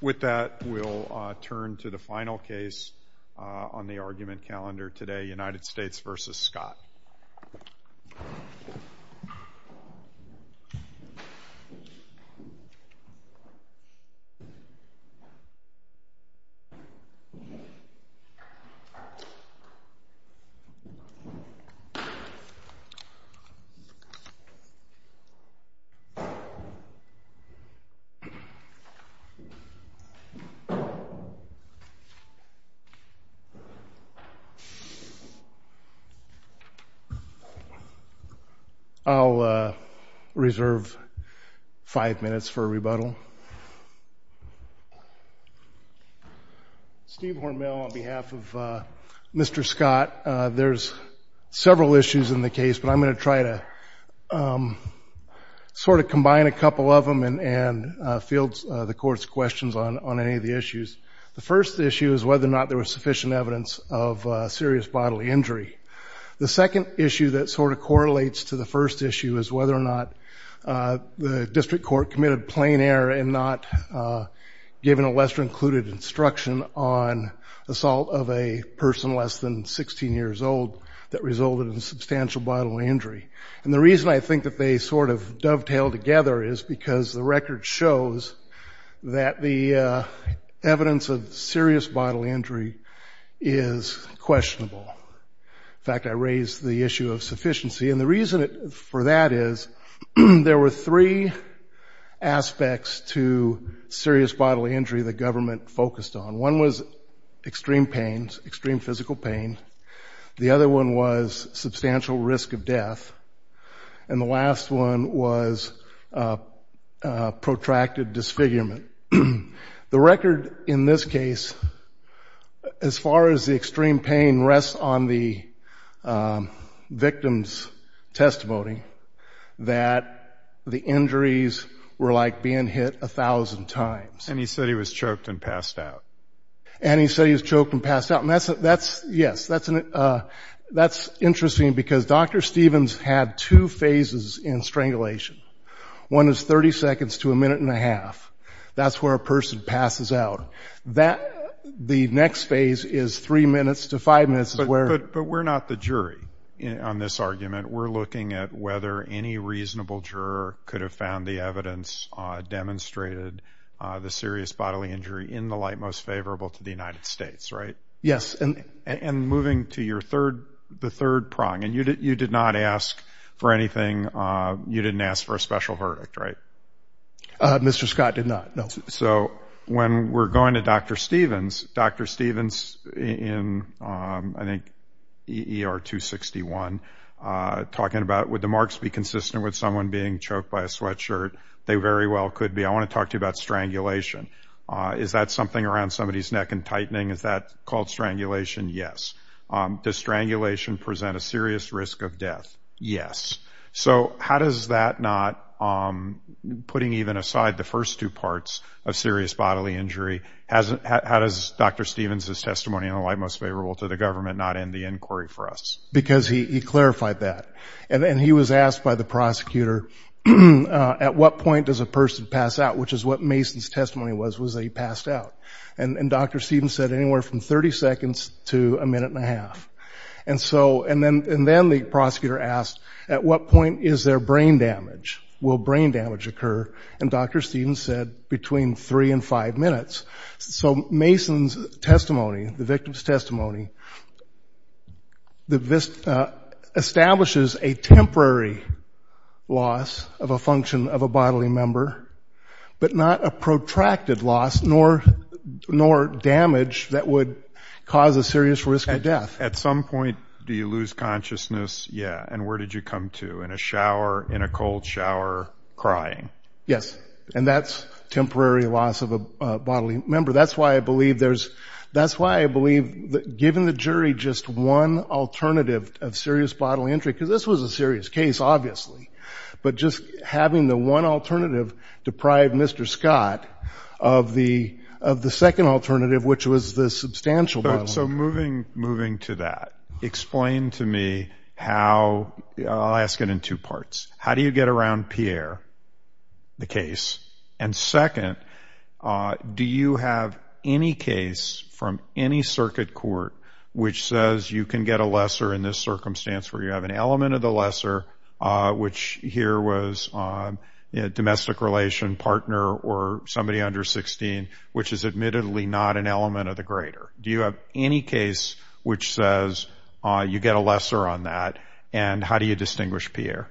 With that, we'll turn to the final case on the argument calendar today, United States v. Scott. I'll reserve five minutes for rebuttal. Steve Hormel on behalf of Mr. Scott. There's several issues in the case, but I'm going to try to sort of combine a couple of them and field the Court's questions on any of the issues. The first issue is whether or not there was sufficient evidence of serious bodily injury. The second issue that sort of correlates to the first issue is whether or not the District Court committed plain error in not giving a lesser included instruction on assault of a person less than 16 years old that resulted in substantial bodily injury. And the reason I think that they sort of dovetail together is because the record shows that the evidence of serious bodily injury is questionable. In fact, I raise the issue of sufficiency, and the reason for that is there were three aspects to serious bodily injury the government focused on. One was extreme pains, extreme physical pain. The other one was substantial risk of death. And the last one was protracted disfigurement. The record in this case, as far as the extreme pain, rests on the victim's testimony that the injuries were like being hit a thousand times. And he said he was choked and passed out. And he said he was choked and passed out. And that's, yes, that's interesting because Dr. Stevens had two phases in strangulation. One is 30 seconds to a minute and a half. That's where a person passes out. The next phase is three minutes to five minutes. But we're not the jury on this argument. We're looking at whether any reasonable juror could have found the evidence demonstrated the serious bodily injury in the light most favorable to the United States, right? Yes. And moving to your third, the third prong, and you did not ask for anything. You didn't ask for a special verdict, right? Mr. Scott did not, no. So when we're going to Dr. Stevens, Dr. Stevens in, I think, ER 261, talking about would the marks be consistent with someone being choked by a sweatshirt? They very well could be. I want to talk to you about strangulation. Is that something around somebody's neck and tightening? Is that called strangulation? Yes. Does strangulation present a serious risk of death? Yes. So how does that not, putting even aside the first two parts of serious bodily injury, how does Dr. Stevens' testimony in the light most favorable to the government not end the inquiry for us? Because he clarified that. And he was asked by the prosecutor at what point does a person pass out, which is what Mason's testimony was, was that he passed out. And Dr. Stevens said anywhere from 30 seconds to a minute and a half. And then the prosecutor asked at what point is there brain damage? Will brain damage occur? And Dr. Stevens said between three and five minutes. So Mason's testimony, the victim's testimony, establishes a temporary loss of a function of a bodily member, but not a protracted loss nor damage that would cause a serious risk of death. At some point do you lose consciousness? Yeah. And where did you come to? In a shower? In a cold shower? Crying? Yes. And that's temporary loss of a bodily member. That's why I believe given the jury just one alternative of serious bodily injury, because this was a serious case, obviously, but just having the one alternative deprive Mr. Scott of the second alternative, which was the substantial bodily injury. So moving to that, explain to me how – I'll ask it in two parts. How do you get around Pierre, the case? And second, do you have any case from any circuit court which says you can get a lesser in this circumstance where you have an element of the lesser, which here was a domestic relation partner or somebody under 16, which is admittedly not an element of the greater? Do you have any case which says you get a lesser on that, and how do you distinguish Pierre?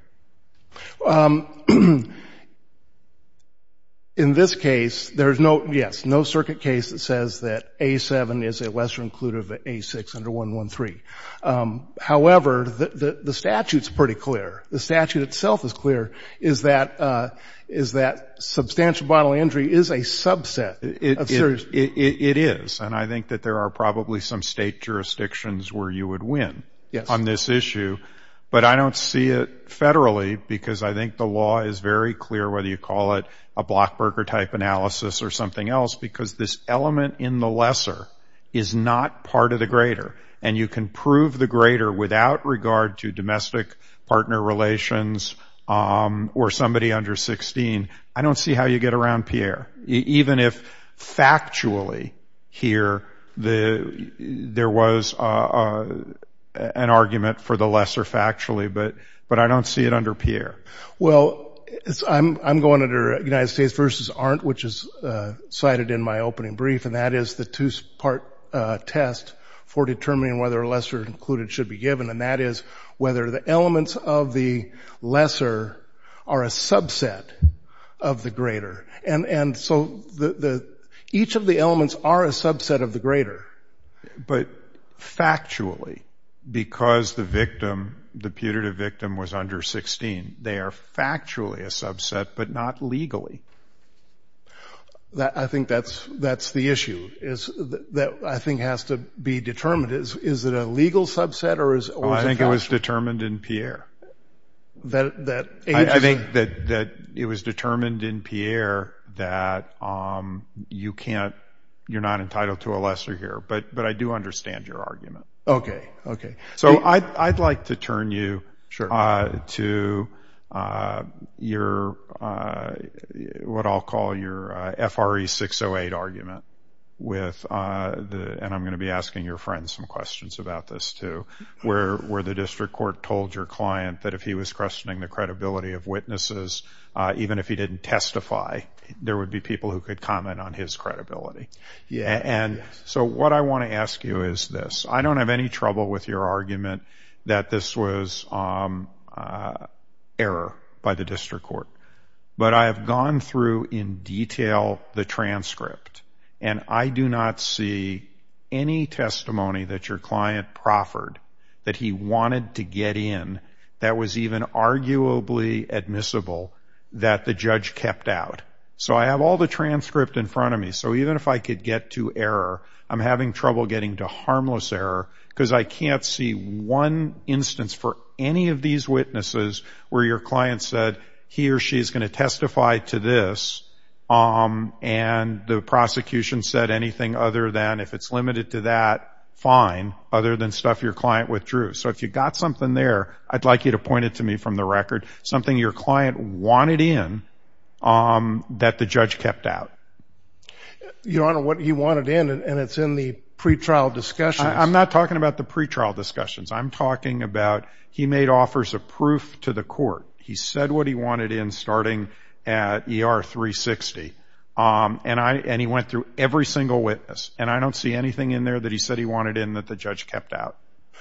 In this case, there's no – yes, no circuit case that says that A7 is a lesser included of A6 under 113. However, the statute's pretty clear. The statute itself is clear, is that substantial bodily injury is a subset of serious bodily injury. It is, and I think that there are probably some state jurisdictions where you would win on this issue. But I don't see it federally, because I think the law is very clear, whether you call it a Blockberger-type analysis or something else, because this element in the lesser is not part of the greater, and you can prove the greater without regard to domestic partner relations or somebody under 16. I don't see how you get around Pierre, even if factually here there was an argument for the lesser factually, but I don't see it under Pierre. Well, I'm going under United States versus aren't, which is cited in my opening brief, and that is the two-part test for determining whether a lesser included should be given, and that is whether the elements of the lesser are a subset of the greater. And so each of the elements are a subset of the greater. But factually, because the victim, the putative victim, was under 16, they are factually a subset but not legally. I think that's the issue that I think has to be determined. Is it a legal subset? I think it was determined in Pierre. I think that it was determined in Pierre that you're not entitled to a lesser here, but I do understand your argument. Okay, okay. So I'd like to turn you to your, what I'll call your FRE 608 argument, and I'm going to be asking your friend some questions about this too, where the district court told your client that if he was questioning the credibility of witnesses, even if he didn't testify, there would be people who could comment on his credibility. Yes. And so what I want to ask you is this. I don't have any trouble with your argument that this was error by the district court, but I have gone through in detail the transcript, and I do not see any testimony that your client proffered that he wanted to get in that was even arguably admissible that the judge kept out. So I have all the transcript in front of me. So even if I could get to error, I'm having trouble getting to harmless error because I can't see one instance for any of these witnesses where your client said, he or she is going to testify to this, and the prosecution said anything other than, if it's limited to that, fine, other than stuff your client withdrew. So if you got something there, I'd like you to point it to me from the record, something your client wanted in that the judge kept out. Your Honor, what he wanted in, and it's in the pretrial discussions. I'm not talking about the pretrial discussions. I'm talking about he made offers of proof to the court. He said what he wanted in starting at ER 360, and he went through every single witness, and I don't see anything in there that he said he wanted in that the judge kept out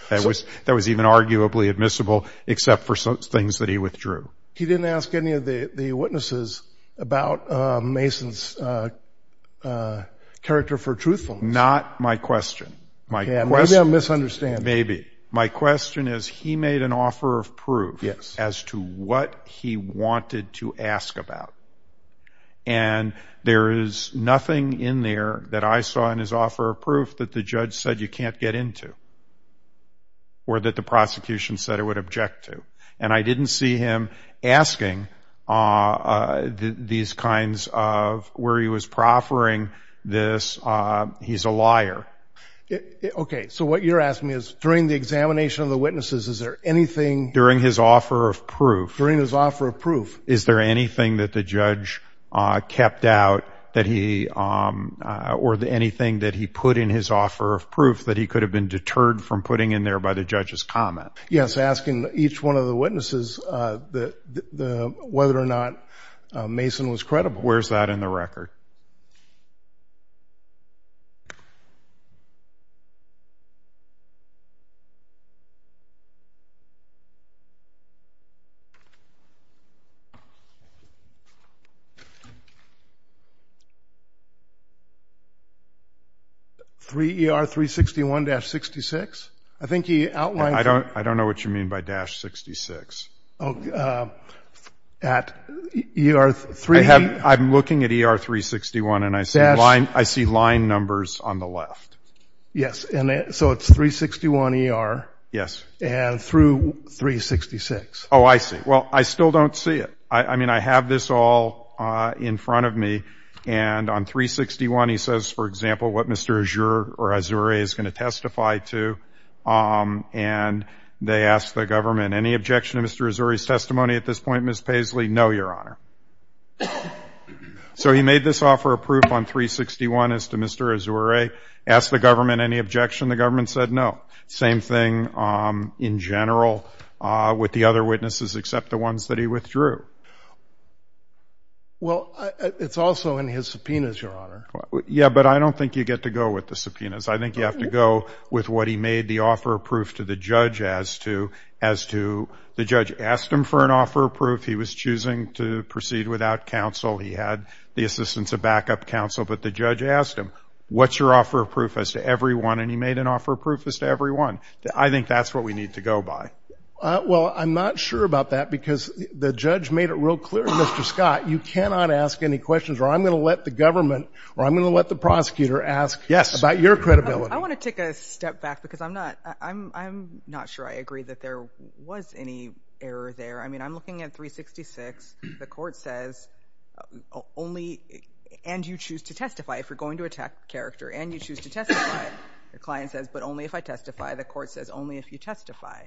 that was even arguably admissible except for things that he withdrew. He didn't ask any of the witnesses about Mason's character for truthfulness. Not my question. Maybe I'm misunderstanding. Maybe. My question is he made an offer of proof as to what he wanted to ask about, and there is nothing in there that I saw in his offer of proof that the judge said you can't get into or that the prosecution said it would object to, and I didn't see him asking these kinds of where he was proffering this, he's a liar. Okay. So what you're asking me is during the examination of the witnesses, is there anything? During his offer of proof. Is there anything that the judge kept out or anything that he put in his offer of proof that he could have been deterred from putting in there by the judge's comment? Yes, asking each one of the witnesses whether or not Mason was credible. Where's that in the record? 3 ER 361-66? I think he outlined. I don't know what you mean by dash 66. At ER 3. I'm looking at ER 361 and I see line numbers on the left. Yes, so it's 361 ER. Yes. And through 366. Oh, I see. Well, I still don't see it. I mean, I have this all in front of me, and on 361 he says, for example, what Mr. Azure or Azure is going to testify to, and they ask the government, any objection to Mr. Azure's testimony at this point, Ms. Paisley? No, Your Honor. So he made this offer of proof on 361 as to Mr. Azure. Asked the government any objection. The government said no. Same thing in general with the other witnesses except the ones that he withdrew. Well, it's also in his subpoenas, Your Honor. Yeah, but I don't think you get to go with the subpoenas. I think you have to go with what he made the offer of proof to the judge as to the judge asked him for an offer of proof. He was choosing to proceed without counsel. He had the assistance of backup counsel, but the judge asked him, what's your offer of proof as to everyone? And he made an offer of proof as to everyone. I think that's what we need to go by. Well, I'm not sure about that because the judge made it real clear, Mr. Scott, you cannot ask any questions or I'm going to let the government or I'm going to let the prosecutor ask about your credibility. Yes. I want to take a step back because I'm not sure I agree that there was any error there. I mean, I'm looking at 366. The client says, but only if I testify. The court says, only if you testify.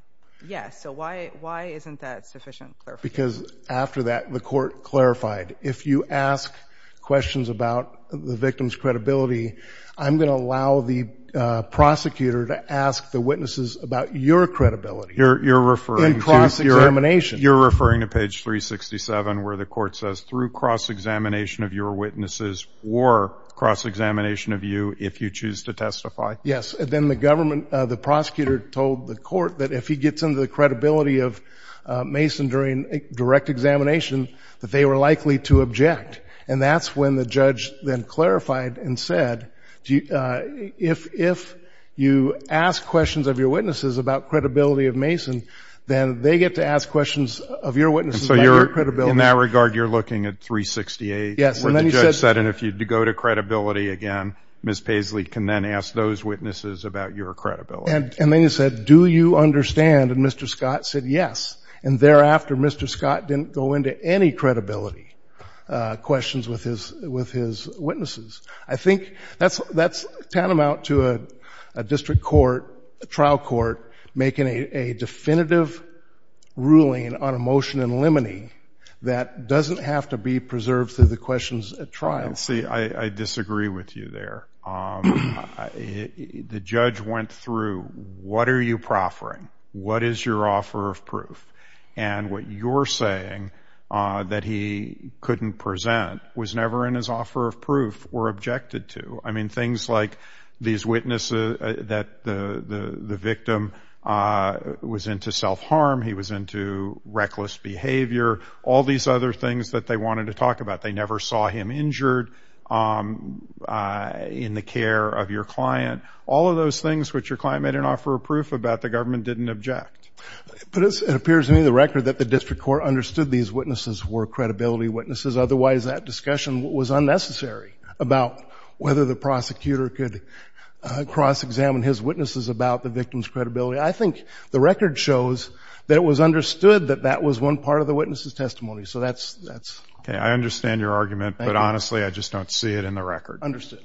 Yes. So why isn't that sufficient? Because after that, the court clarified, if you ask questions about the victim's credibility, I'm going to allow the prosecutor to ask the witnesses about your credibility. You're referring to cross-examination. You're referring to page 367 where the court says, through cross-examination of your witnesses or cross-examination of you if you choose to testify. Yes. And then the government, the prosecutor told the court that if he gets into the credibility of Mason during direct examination, that they were likely to object. And that's when the judge then clarified and said, if you ask questions of your witnesses about credibility of Mason, then they get to ask questions of your witnesses about your credibility. In that regard, you're looking at 368 where the judge said, and if you go to credibility again, Ms. Paisley can then ask those witnesses about your credibility. And then he said, do you understand? And Mr. Scott said, yes. And thereafter, Mr. Scott didn't go into any credibility questions with his witnesses. I think that's tantamount to a district court, a trial court, making a definitive ruling on a motion in limine that doesn't have to be preserved through the questions at trial. See, I disagree with you there. The judge went through, what are you proffering? What is your offer of proof? And what you're saying that he couldn't present was never in his offer of proof or objected to. I mean, things like these witnesses that the victim was into self-harm, he was into reckless behavior, all these other things that they wanted to talk about. They never saw him injured in the care of your client. All of those things which your client made an offer of proof about, the government didn't object. But it appears to me the record that the district court understood these witnesses were credibility witnesses. Otherwise, that discussion was unnecessary about whether the prosecutor could cross-examine his witnesses about the victim's credibility. I think the record shows that it was understood that that was one part of the witness's testimony. So that's ‑‑ Okay. I understand your argument. Thank you. But honestly, I just don't see it in the record. Understood.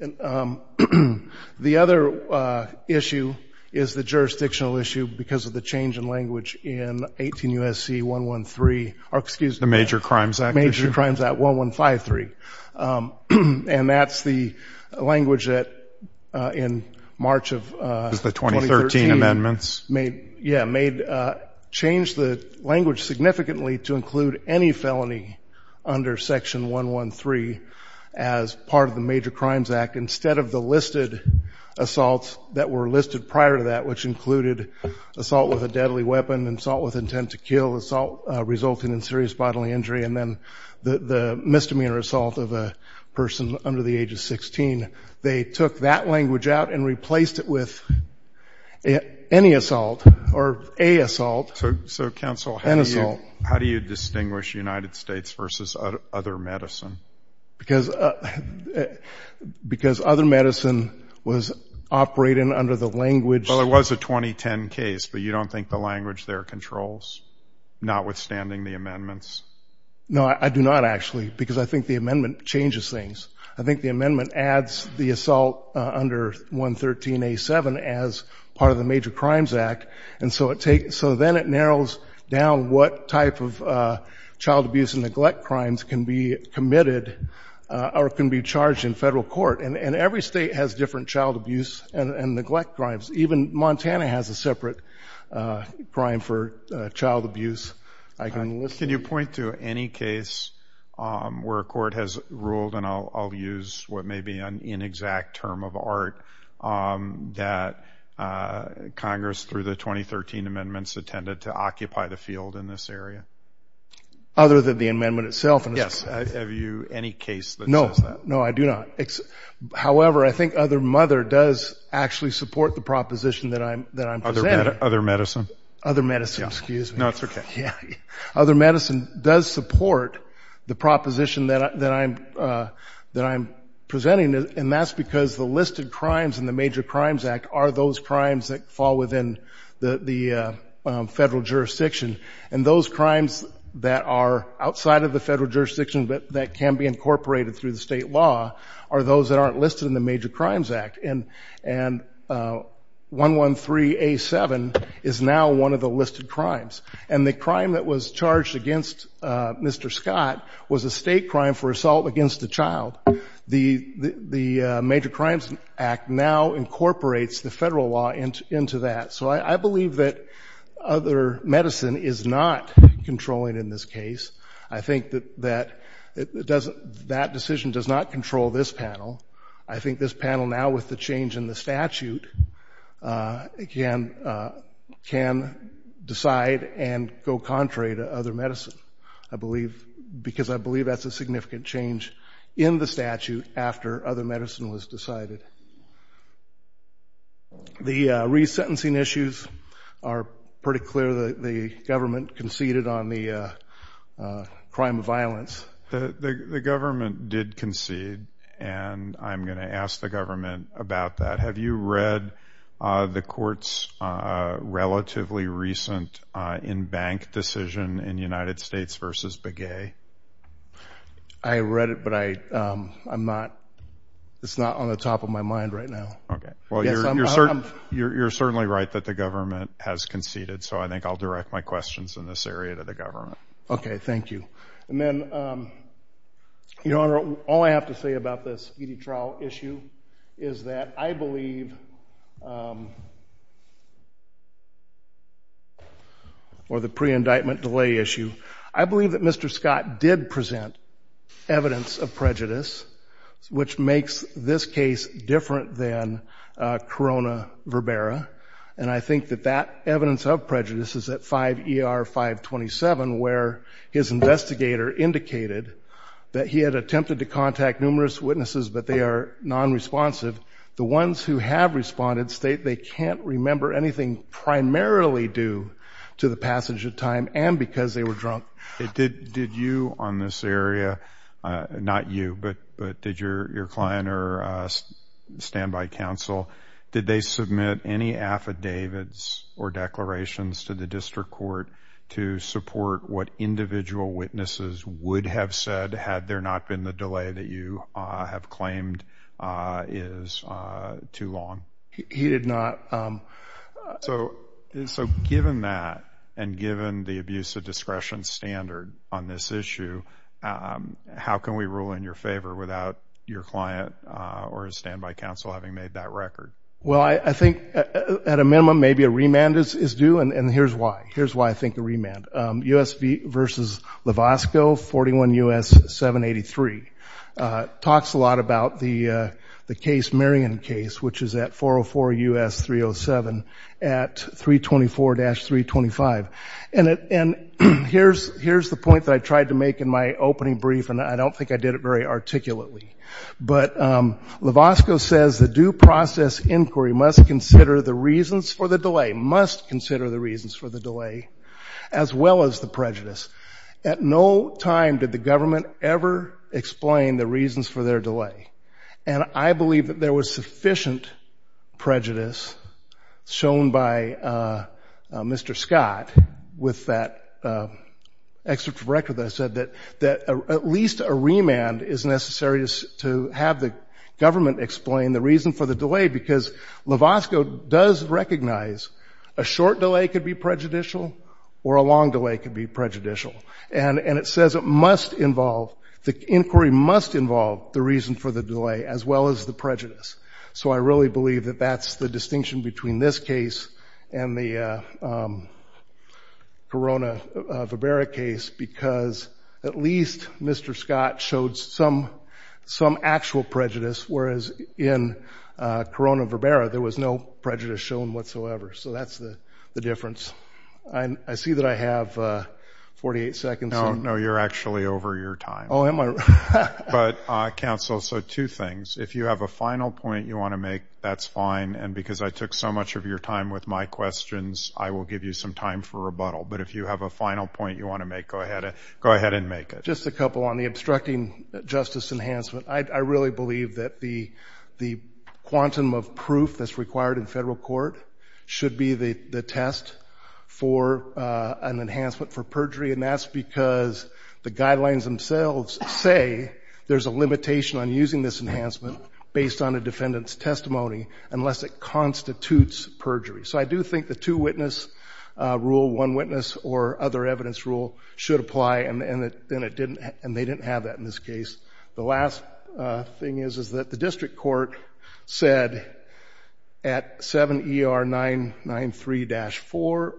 The other issue is the jurisdictional issue because of the change in language in 18 U.S.C. 113. Excuse me. The Major Crimes Act issue. Major Crimes Act 1153. And that's the language that in March of 2013 made change the language significantly to include any felony under Section 113 as part of the Major Crimes Act instead of the listed assaults that were listed prior to that, which included assault with a deadly weapon, assault with intent to kill, assault resulting in serious bodily injury, and then the misdemeanor assault of a person under the age of 16. They took that language out and replaced it with any assault or a assault. So, Counsel, how do you distinguish United States versus other medicine? Because other medicine was operating under the language ‑‑ notwithstanding the amendments. No, I do not, actually, because I think the amendment changes things. I think the amendment adds the assault under 113A7 as part of the Major Crimes Act, and so then it narrows down what type of child abuse and neglect crimes can be committed or can be charged in federal court. And every state has different child abuse and neglect crimes. Even Montana has a separate crime for child abuse. Can you point to any case where a court has ruled, and I'll use what may be an inexact term of art, that Congress, through the 2013 amendments, intended to occupy the field in this area? Other than the amendment itself. Yes, have you any case that says that? No, I do not. However, I think other mother does actually support the proposition that I'm presenting. Other medicine? Other medicine, excuse me. No, it's okay. Other medicine does support the proposition that I'm presenting, and that's because the listed crimes in the Major Crimes Act are those crimes that fall within the federal jurisdiction, and those crimes that are outside of the federal jurisdiction are those that aren't listed in the Major Crimes Act. And 113A7 is now one of the listed crimes. And the crime that was charged against Mr. Scott was a state crime for assault against a child. The Major Crimes Act now incorporates the federal law into that. So I believe that other medicine is not controlling in this case. I think that that decision does not control this panel. I think this panel now with the change in the statute can decide and go contrary to other medicine, I believe, because I believe that's a significant change in the statute after other medicine was decided. The resentencing issues are pretty clear. The government conceded on the crime of violence. The government did concede, and I'm going to ask the government about that. Have you read the court's relatively recent in-bank decision in United States versus Begay? I read it, but it's not on the top of my mind right now. Okay. Well, you're certainly right that the government has conceded, so I think I'll direct my questions in this area to the government. Okay, thank you. And then, Your Honor, all I have to say about this Beady trial issue is that I believe, or the pre-indictment delay issue, I believe that Mr. Scott did present evidence of prejudice, which makes this case different than Corona verbera, and I think that that evidence of prejudice is at 5 ER 527, where his investigator indicated that he had attempted to contact numerous witnesses, but they are non-responsive. The ones who have responded state they can't remember anything primarily due to the passage of time and because they were drunk. Did you on this area, not you, but did your client or standby counsel, did they submit any affidavits or declarations to the district court to support what individual witnesses would have said had there not been the delay that you have claimed is too long? He did not. So given that, and given the abuse of discretion standard on this issue, how can we rule in your favor without your client or standby counsel having made that record? Well, I think at a minimum maybe a remand is due, and here's why. Here's why I think a remand. U.S. v. Lovasco, 41 U.S. 783, talks a lot about the case, Marion case, which is that 404 U.S. 307 at 324-325. And here's the point that I tried to make in my opening brief, and I don't think I did it very articulately. But Lovasco says the due process inquiry must consider the reasons for the delay, must consider the reasons for the delay, as well as the prejudice. At no time did the government ever explain the reasons for their delay, and I think there was sufficient prejudice shown by Mr. Scott with that excerpt from the record that I said that at least a remand is necessary to have the government explain the reason for the delay, because Lovasco does recognize a short delay could be prejudicial or a long delay could be prejudicial. And it says it must involve, the inquiry must involve the reason for the delay as well as the prejudice. So I really believe that that's the distinction between this case and the Corona-Verbera case, because at least Mr. Scott showed some actual prejudice, whereas in Corona-Verbera there was no prejudice shown whatsoever. So that's the difference. I see that I have 48 seconds. No, you're actually over your time. Oh, am I? But, counsel, so two things. If you have a final point you want to make, that's fine, and because I took so much of your time with my questions, I will give you some time for rebuttal. But if you have a final point you want to make, go ahead and make it. Just a couple on the obstructing justice enhancement. I really believe that the quantum of proof that's required in federal court should be the test for an enhancement for perjury, and that's because the guidelines themselves say there's a limitation on using this enhancement based on a defendant's testimony unless it constitutes perjury. So I do think the two-witness rule, one-witness or other evidence rule should apply, and they didn't have that in this case. The last thing is that the district court said at 7ER993-994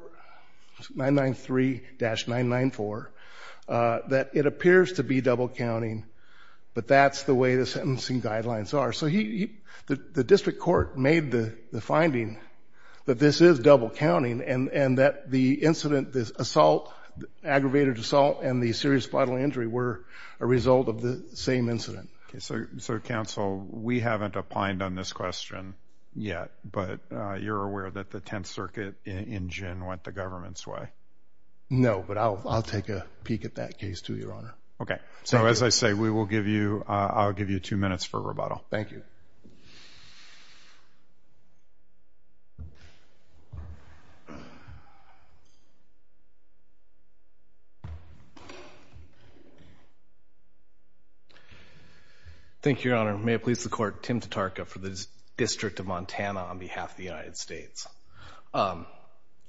that it appears to be double-counting, but that's the way the sentencing guidelines are. So the district court made the finding that this is double-counting and that the incident, the assault, the aggravated assault and the serious bodily injury were a result of the same incident. So, counsel, we haven't opined on this question yet, but you're aware that the Tenth Circuit in gin went the government's way? No, but I'll take a peek at that case too, Your Honor. Okay. So as I say, I'll give you two minutes for rebuttal. Thank you. Thank you, Your Honor. May it please the Court, Tim Tatarka for the District of Montana on behalf of the United States. I'm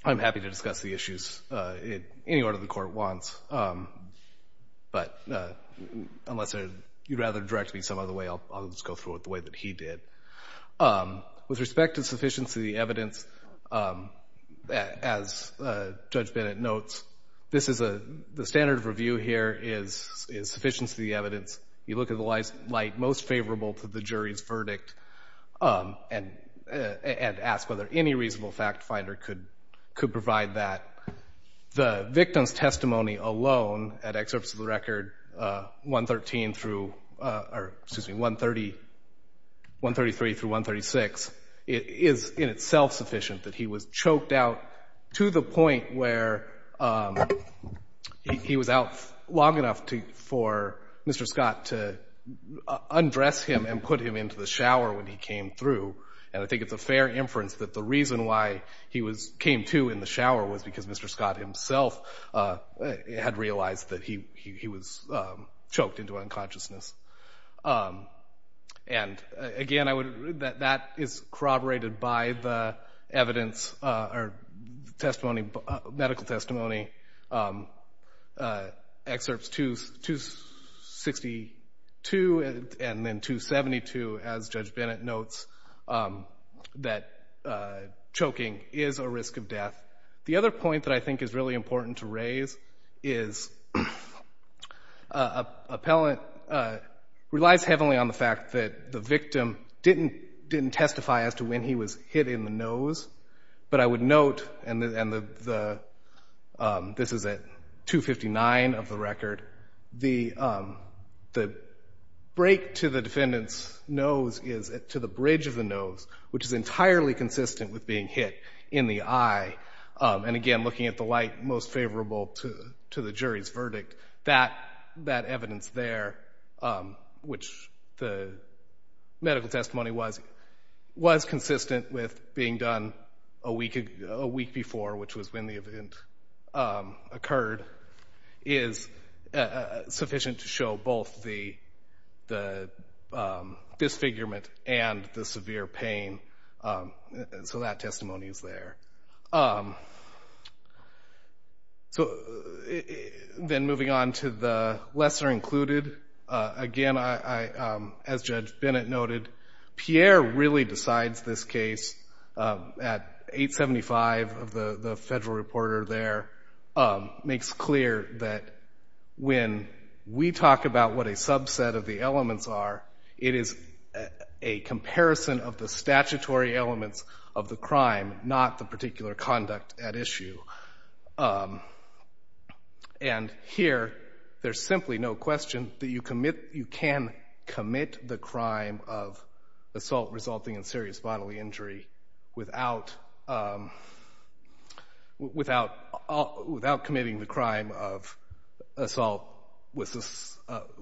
happy to discuss the issues any order the Court wants, but unless you'd rather direct me some other way, I'll just go through it the way that he did. With respect to sufficiency of the evidence, as Judge Bennett notes, the standard of review here is sufficiency of the evidence. You look at the light most favorable to the jury's verdict and ask whether any reasonable fact finder could provide that. The victim's testimony alone at excerpts of the record 133 through 136 is in itself sufficient that he was choked out to the point where he was out long enough for Mr. Scott to undress him and put him into the shower when he came through. And I think it's a fair inference that the reason why he came through in the shower was because Mr. Scott himself had realized that he was choked into unconsciousness. And again, that is corroborated by the evidence or medical testimony, excerpts 262 and then 272, as Judge Bennett notes, that choking is a risk of death. The other point that I think is really important to raise is appellant relies heavily on the fact that the victim didn't testify as to when he was hit in the nose, but I would note, and this is at 259 of the record, the break to the defendant's nose is to the bridge of the nose, which is entirely consistent with being hit in the eye. And again, looking at the light most favorable to the jury's verdict, that evidence there, which the medical testimony was consistent with being done a week before, which was when the event occurred, is sufficient to show both the disfigurement and the severe pain. So that testimony is there. Then moving on to the lesser included, again, as Judge Bennett noted, Pierre really decides this case at 875 of the federal reporter there, makes clear that when we talk about what a subset of the elements are, it is a comparison of the statutory elements of the crime, not the particular conduct at issue. And here, there's simply no question that you can commit the crime of assault resulting in serious bodily injury without committing the crime of assault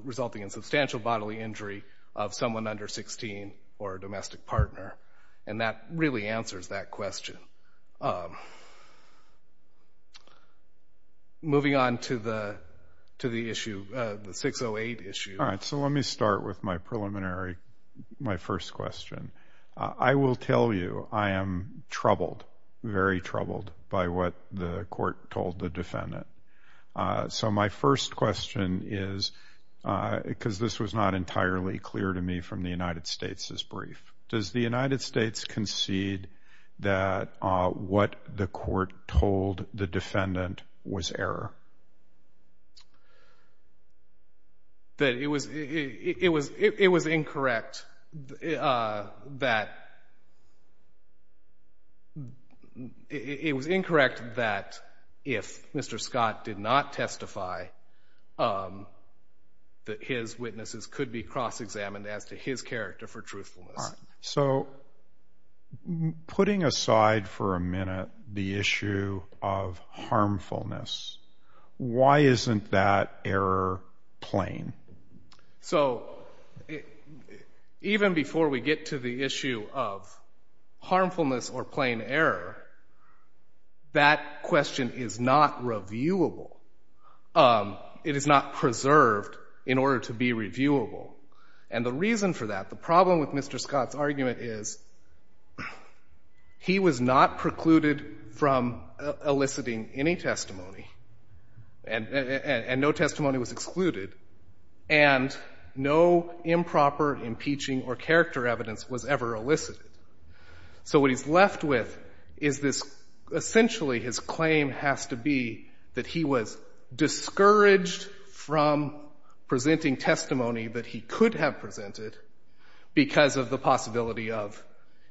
resulting in substantial bodily injury of someone under 16 or a domestic partner, and that really answers that question. Moving on to the issue, the 608 issue. All right, so let me start with my preliminary, my first question. I will tell you I am troubled, very troubled by what the court told the defendant. So my first question is, because this was not entirely clear to me from the United States' brief, does the United States concede that what the court told the defendant was error? It was incorrect that if Mr. Scott did not testify, that his witnesses could be cross-examined as to his character for truthfulness. All right, so putting aside for a minute the issue of harmfulness, why isn't that error plain? So even before we get to the issue of harmfulness or plain error, that question is not reviewable, it is not preserved in order to be reviewable. And the reason for that, the problem with Mr. Scott's argument is he was not precluded from eliciting any testimony, and no testimony was excluded, and no improper impeaching or character evidence was ever elicited. So what he's left with is this, essentially his claim has to be that he was discouraged from presenting testimony that he could have presented because of the possibility of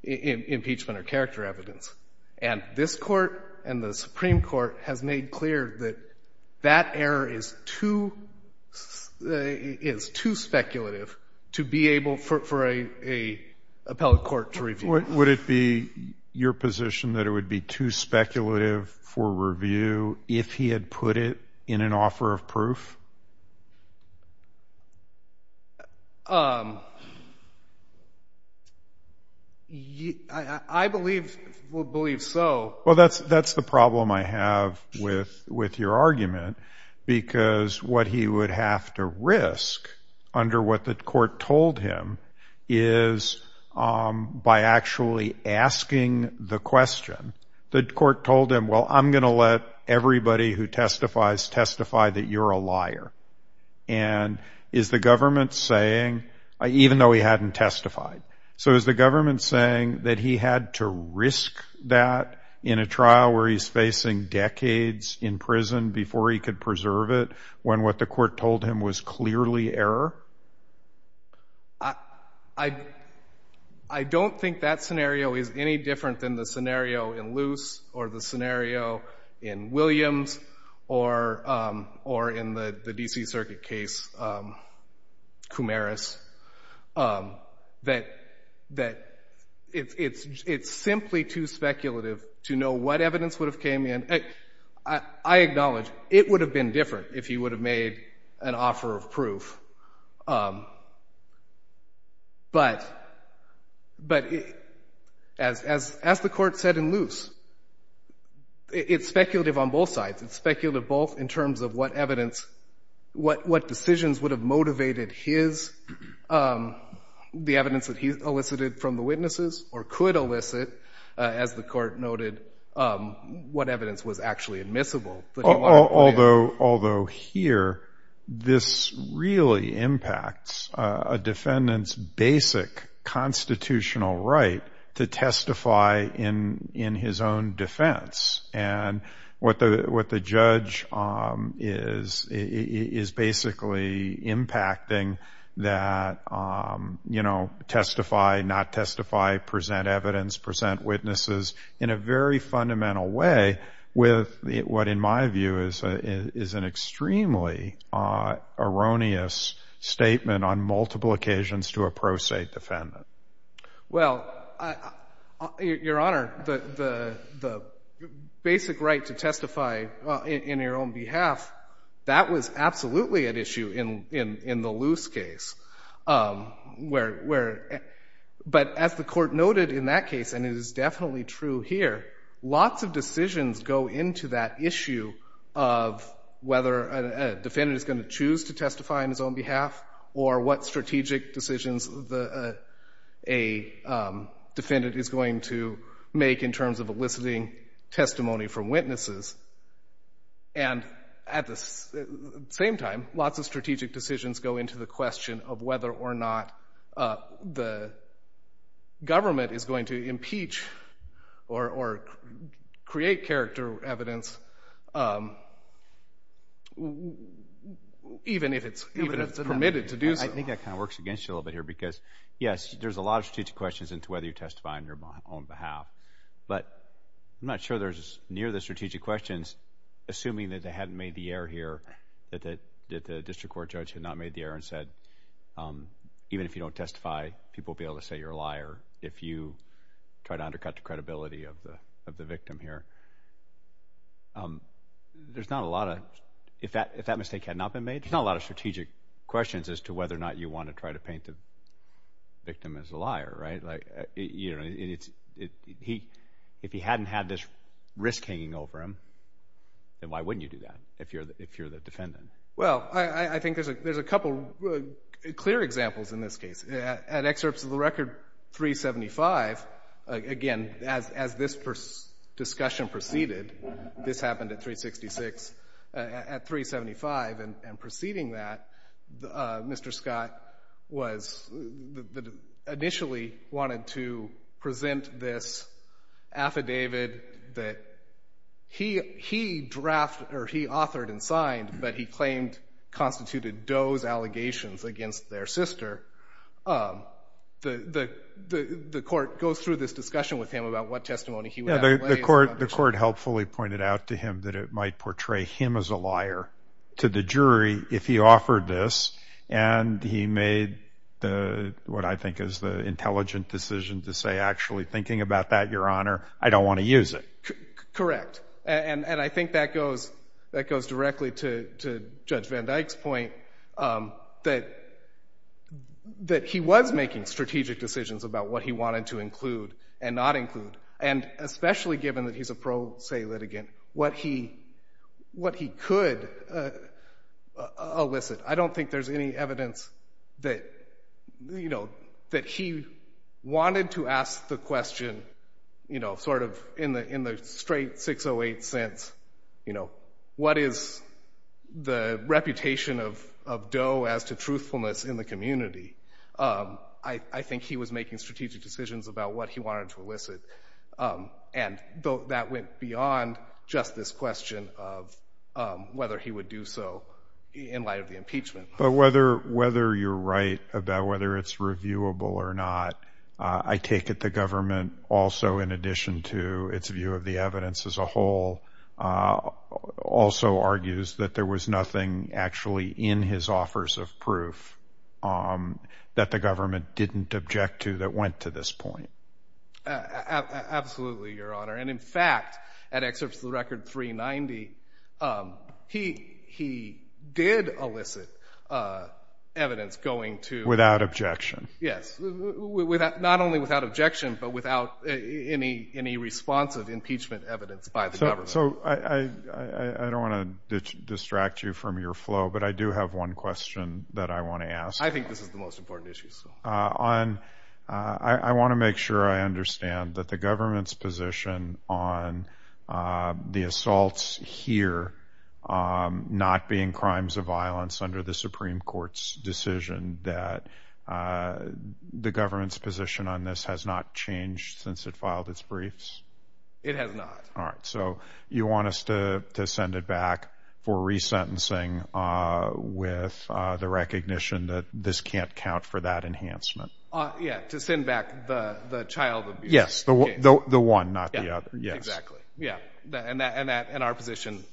impeachment or character evidence. And this Court and the Supreme Court has made clear that that error is too speculative to be able for an appellate court to review. Would it be your position that it would be too speculative for review if he had put it in an offer of proof? I believe, would believe so. Well, that's the problem I have with your argument, because what he would have to risk under what the Court told him is by actually asking the question, the Court told him, well, I'm going to let everybody who testifies testify that you're a liar. And is the government saying, even though he hadn't testified, so is the government saying that he had to risk that in a trial where he's facing decades in prison before he could preserve it, when what the Court told him was clearly error? I don't think that scenario is any different than the scenario in Luce or the scenario in Williams or in the D.C. Circuit case, Coumaris, that it's simply too speculative. But as the Court said in Luce, it's speculative on both sides. It's speculative both in terms of what evidence, what decisions would have motivated his, the evidence that he elicited from the witnesses or could elicit, as the Court noted, what evidence was actually admissible. Although here, this really impacts a defendant's basic constitutional right to testify in his own defense. And what the judge is basically impacting that testify, not testify, present evidence, present witnesses in a very fundamental way with what in my view is an extremely erroneous statement on multiple occasions to a pro se defendant. Well, Your Honor, the basic right to testify in your own behalf, that was absolutely at issue in the Luce case. But as the Court noted in that case, and it is definitely true here, lots of decisions go into that issue of whether a defendant is going to choose to testify on his own behalf or what strategic decisions a defendant is going to make in terms of eliciting testimony from witnesses. And at the same time, lots of strategic decisions go into the question of whether or not the government is going to impeach or create character evidence, even if it's permitted to do so. I think that kind of works against you a little bit here because, yes, there's a lot of strategic questions into whether you testify on your own behalf. But I'm not sure there's near the strategic questions assuming that they hadn't made the error here, that the district court judge had not made the error and said even if you don't testify, people will be able to say you're a liar if you try to undercut the credibility of the victim here. There's not a lot of, if that mistake had not been made, there's not a lot of strategic questions as to whether or not you want to try to paint the victim as a liar, right? If he hadn't had this risk hanging over him, then why wouldn't you do that if you're the defendant? Well, I think there's a couple clear examples in this case. At excerpts of the record 375, again, as this discussion proceeded, this happened at 366, at 375 and preceding that, Mr. Scott was, initially wanted to present this affidavit that he authored and signed, but he claimed constituted Doe's allegations against their sister. The court goes through this discussion with him about what testimony he would have to lay. The court helpfully pointed out to him that it might portray him as a liar to the jury if he offered this and he made what I think is the intelligent decision to say, actually thinking about that, Your Honor, I don't want to use it. Correct. And I think that goes directly to Judge Van Dyke's point that he was making strategic decisions about what he wanted to include and not include, and especially given that he's a pro se litigant, what he could elicit. I don't think there's any evidence that he wanted to ask the question, sort of in the straight 608 sense, what is the reputation of Doe as to truthfulness in the community? I think he was making strategic decisions about what he wanted to elicit and that went beyond just this question of whether he would do so in light of the impeachment. But whether you're right about whether it's reviewable or not, I take it the government also, in addition to its view of the evidence as a whole, also argues that there was nothing actually in his offers of proof that the government didn't object to that went to this point. Absolutely, Your Honor. And in fact, at Excerpts of the Record 390, he did elicit evidence going to... Without objection. Yes. Not only without objection, but without any responsive impeachment evidence by the government. I don't want to distract you from your flow, but I do have one question that I want to ask. I think this is the most important issue. I want to make sure I understand that the government's position on the assaults here not being crimes of violence under the Supreme Court's decision, that the government's position on this has not changed since it filed its briefs? It has not. All right. So you want us to send it back for resentencing with the recognition that this can't count for that enhancement? Yeah. To send back the child abuse case. Yes. The one, not the other. Exactly. Yeah. And our position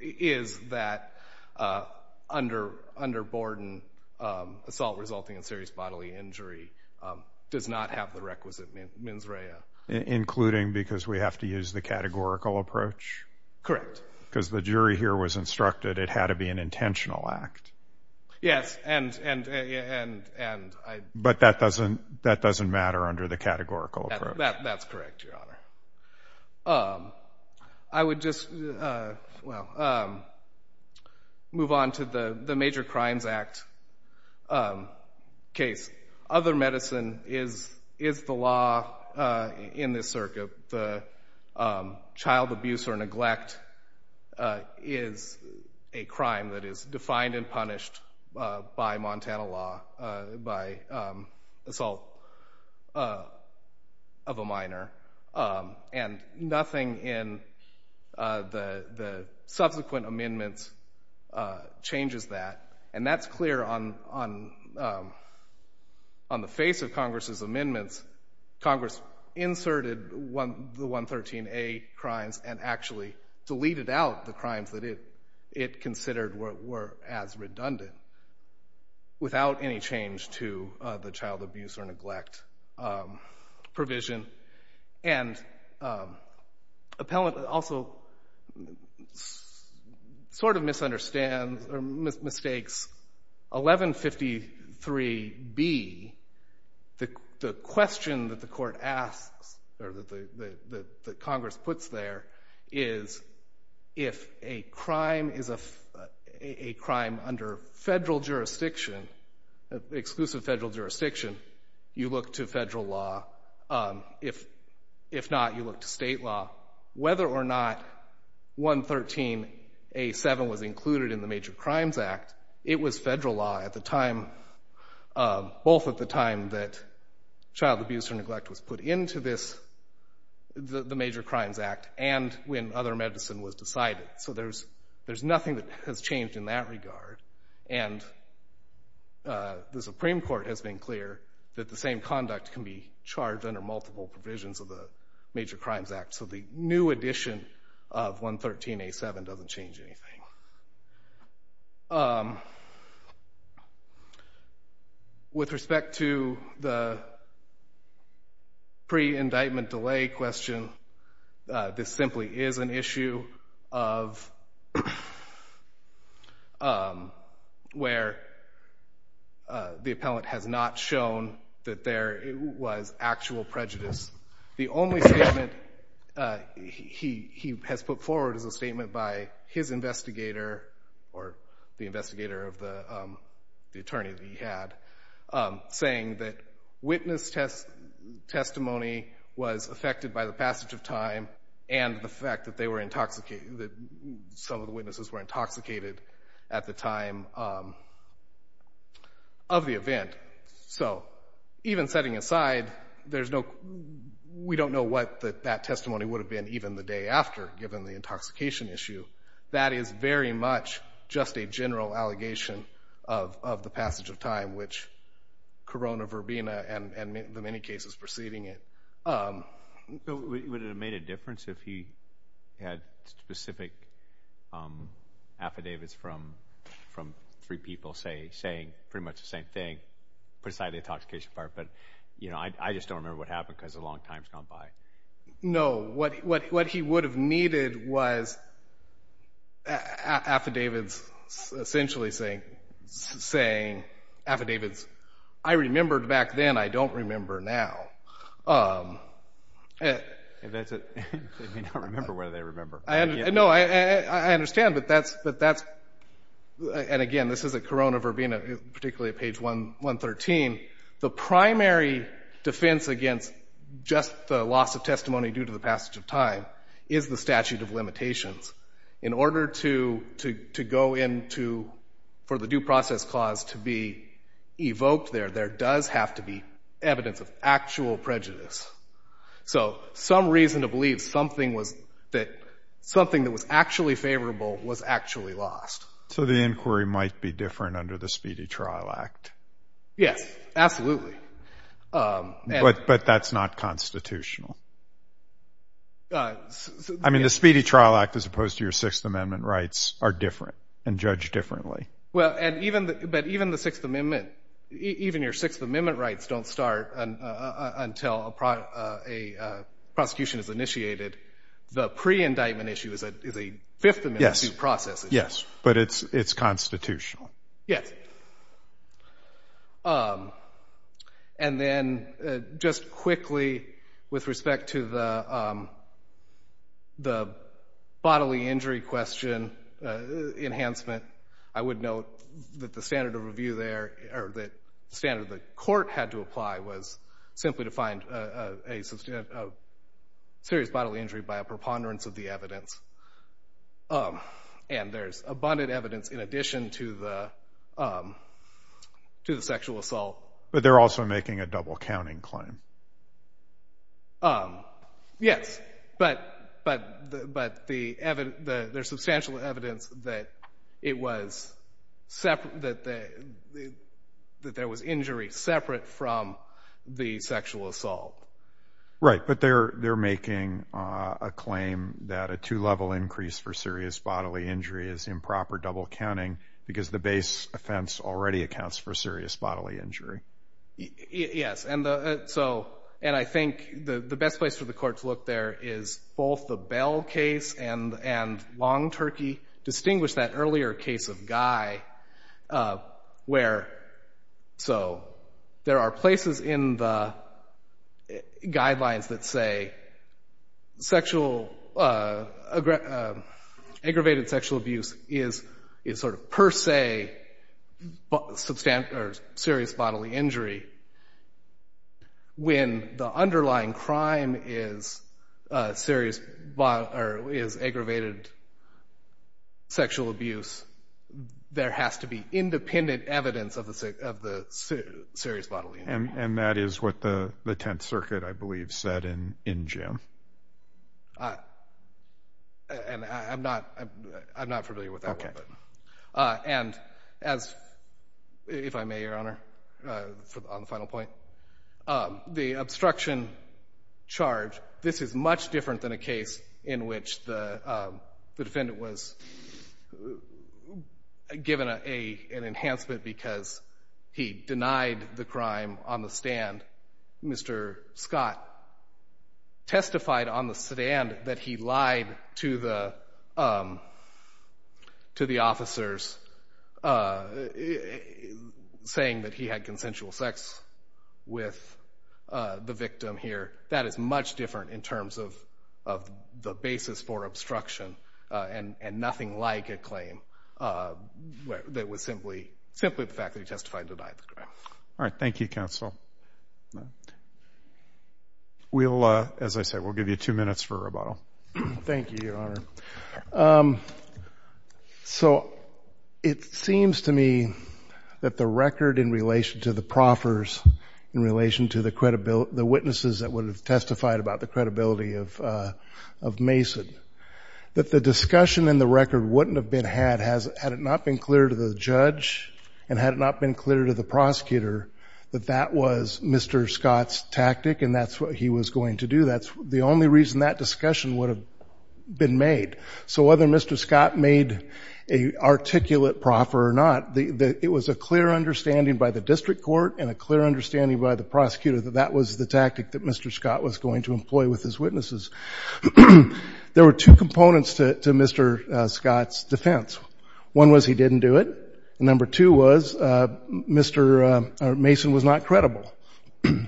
is that under Borden, assault resulting in serious bodily injury does not have the requisite mens rea. Including because we have to use the categorical approach? Correct. Because the jury here was instructed it had to be an intentional act. Yes. And I... But that doesn't matter under the categorical approach. That's correct, Your Honor. I would just move on to the Major Crimes Act case. Other medicine is the law in this circuit. The child abuse or neglect is a crime that is defined and punished by Montana law by assault of a minor. And nothing in the subsequent amendments changes that. And that's clear on the face of Congress's amendments. Congress inserted the 113A crimes and actually deleted out the crimes that it considered were as redundant without any change to the child abuse or neglect provision. And appellant also sort of misunderstands or mistakes 1153B. The question that the court asks or that Congress puts there is if a crime is a crime under federal jurisdiction, exclusive federal jurisdiction, you look to federal law. If not, you look to state law. Whether or not 113A.7 was included in the Major Crimes Act, it was federal law at the time, both at the time that child abuse or neglect was put into the Major Crimes Act and when other medicine was decided. So there's nothing that has changed in that regard. And the Supreme Court has been clear that the same conduct can be charged under multiple provisions of the Major Crimes Act. So the new addition of 113A.7 doesn't change anything. With respect to the pre-indictment delay question, this simply is an issue of where the appellant has not shown that there was actual prejudice. The only statement he has put forward is a statement by his investigator or the investigator of the attorney that he had, saying that witness testimony was affected by the passage of time and the fact that some of the witnesses were intoxicated at the time of the event. So even setting aside, we don't know what that testimony would have been even the day after, given the intoxication issue. That is very much just a general allegation of the passage of time, which Corona Verbena and the many cases preceding it. Would it have made a difference if he had specific affidavits from three people saying pretty much the same thing, put aside the intoxication part? But I just don't remember what happened because a long time has gone by. No, what he would have needed was affidavits essentially saying affidavits I remembered back then, I don't remember now. They may not remember what they remember. No, I understand, but that's, and again, this is at Corona Verbena, particularly at page 113. The primary defense against just the loss of testimony due to the passage of time is the statute of limitations. In order to go into, for the due process clause to be evoked there, there does have to be evidence of actual prejudice. So some reason to believe something that was actually favorable was actually lost. So the inquiry might be different under the Speedy Trial Act. Yes, absolutely. But that's not constitutional. I mean, the Speedy Trial Act as opposed to your Sixth Amendment rights are different and judged differently. Well, but even the Sixth Amendment, even your Sixth Amendment rights don't start until a prosecution is initiated. The pre-indictment issue is a Fifth Amendment due process issue. Yes, but it's constitutional. Yes. And then just quickly with respect to the bodily injury question enhancement, I would note that the standard of review there, or the standard the court had to apply was simply to find a serious bodily injury by a preponderance of the evidence. And there's abundant evidence in addition to the sexual assault. But they're also making a double-counting claim. Yes, but there's substantial evidence that there was injury separate from the sexual assault. Right, but they're making a claim that a two-level increase for serious bodily injury is improper double-counting because the base offense already accounts for serious bodily injury. Yes, and I think the best place for the court to look there is both the Bell case and Long Turkey. Distinguish that earlier case of Guy where there are places in the guidelines that say aggravated sexual abuse is sort of per se serious bodily injury when the underlying crime is aggravated sexual abuse, there has to be independent evidence of the serious bodily injury. And that is what the Tenth Circuit, I believe, said in June. And if I may, Your Honor, on the final point, the obstruction charge, this is much different than a case in which the defendant was given an enhancement because he denied the crime on the stand. Mr. Scott testified on the stand that he lied to the officers saying that he had consensual sex with the victim here. That is much different in terms of the basis for obstruction and nothing like a claim that was simply the fact that he testified to deny the crime. All right. Thank you, counsel. We'll, as I said, we'll give you two minutes for rebuttal. Thank you, Your Honor. So it seems to me that the record in relation to the proffers, in relation to the witnesses that would have testified about the credibility of Mason, that the discussion in the record wouldn't have been had it not been clear to the judge and had it not been clear to the prosecutor that that was Mr. Scott's tactic and that's what he was going to do. That's the only reason that discussion would have been made. So whether Mr. Scott made an articulate proffer or not, it was a clear understanding by the district court and a clear understanding by the prosecutor that that was the tactic that Mr. Scott was going to employ with his witnesses. There were two components to Mr. Scott's defense. One was he didn't do it. Number two was Mr. Mason was not credible.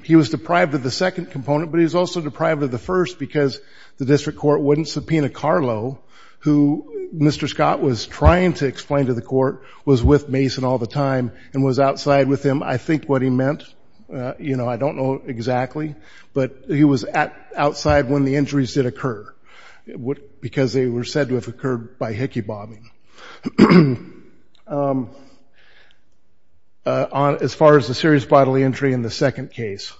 He was deprived of the second component, but he was also deprived of the first because the district court wouldn't subpoena Carlo, who Mr. Scott was trying to explain to the court, was with Mason all the time and was outside with him. I think what he meant, you know, I don't know exactly, but he was outside when the injuries did occur because they were said to have occurred by hickey bobbing. As far as the serious bodily injury in the second case,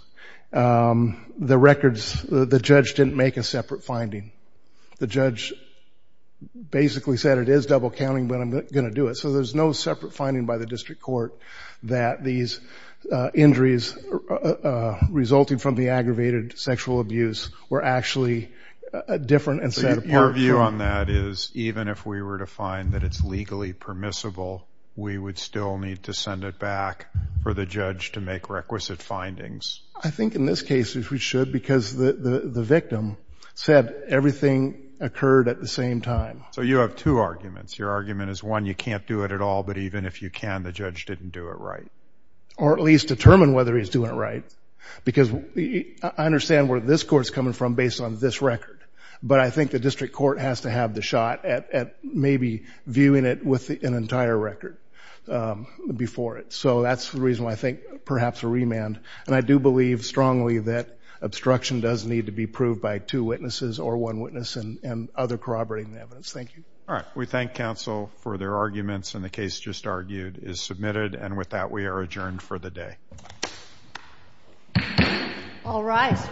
the judge didn't make a separate finding. The judge basically said it is double counting, but I'm not going to do it. So there's no separate finding by the district court that these injuries resulting from the aggravated sexual abuse were actually different and set apart. Your view on that is even if we were to find that it's legally permissible, we would still need to send it back for the judge to make requisite findings. I think in this case we should because the victim said everything occurred at the same time. So you have two arguments. Your argument is, one, you can't do it at all, but even if you can, the judge didn't do it right. Or at least determine whether he's doing it right because I understand where this court is coming from based on this record, but I think the district court has to have the shot at maybe viewing it with an entire record before it. So that's the reason why I think perhaps a remand. And I do believe strongly that obstruction does need to be proved by two witnesses or one witness and other corroborating evidence. Thank you. All right. We thank counsel for their arguments and the case just argued is submitted. And with that, we are adjourned for the day. All rise.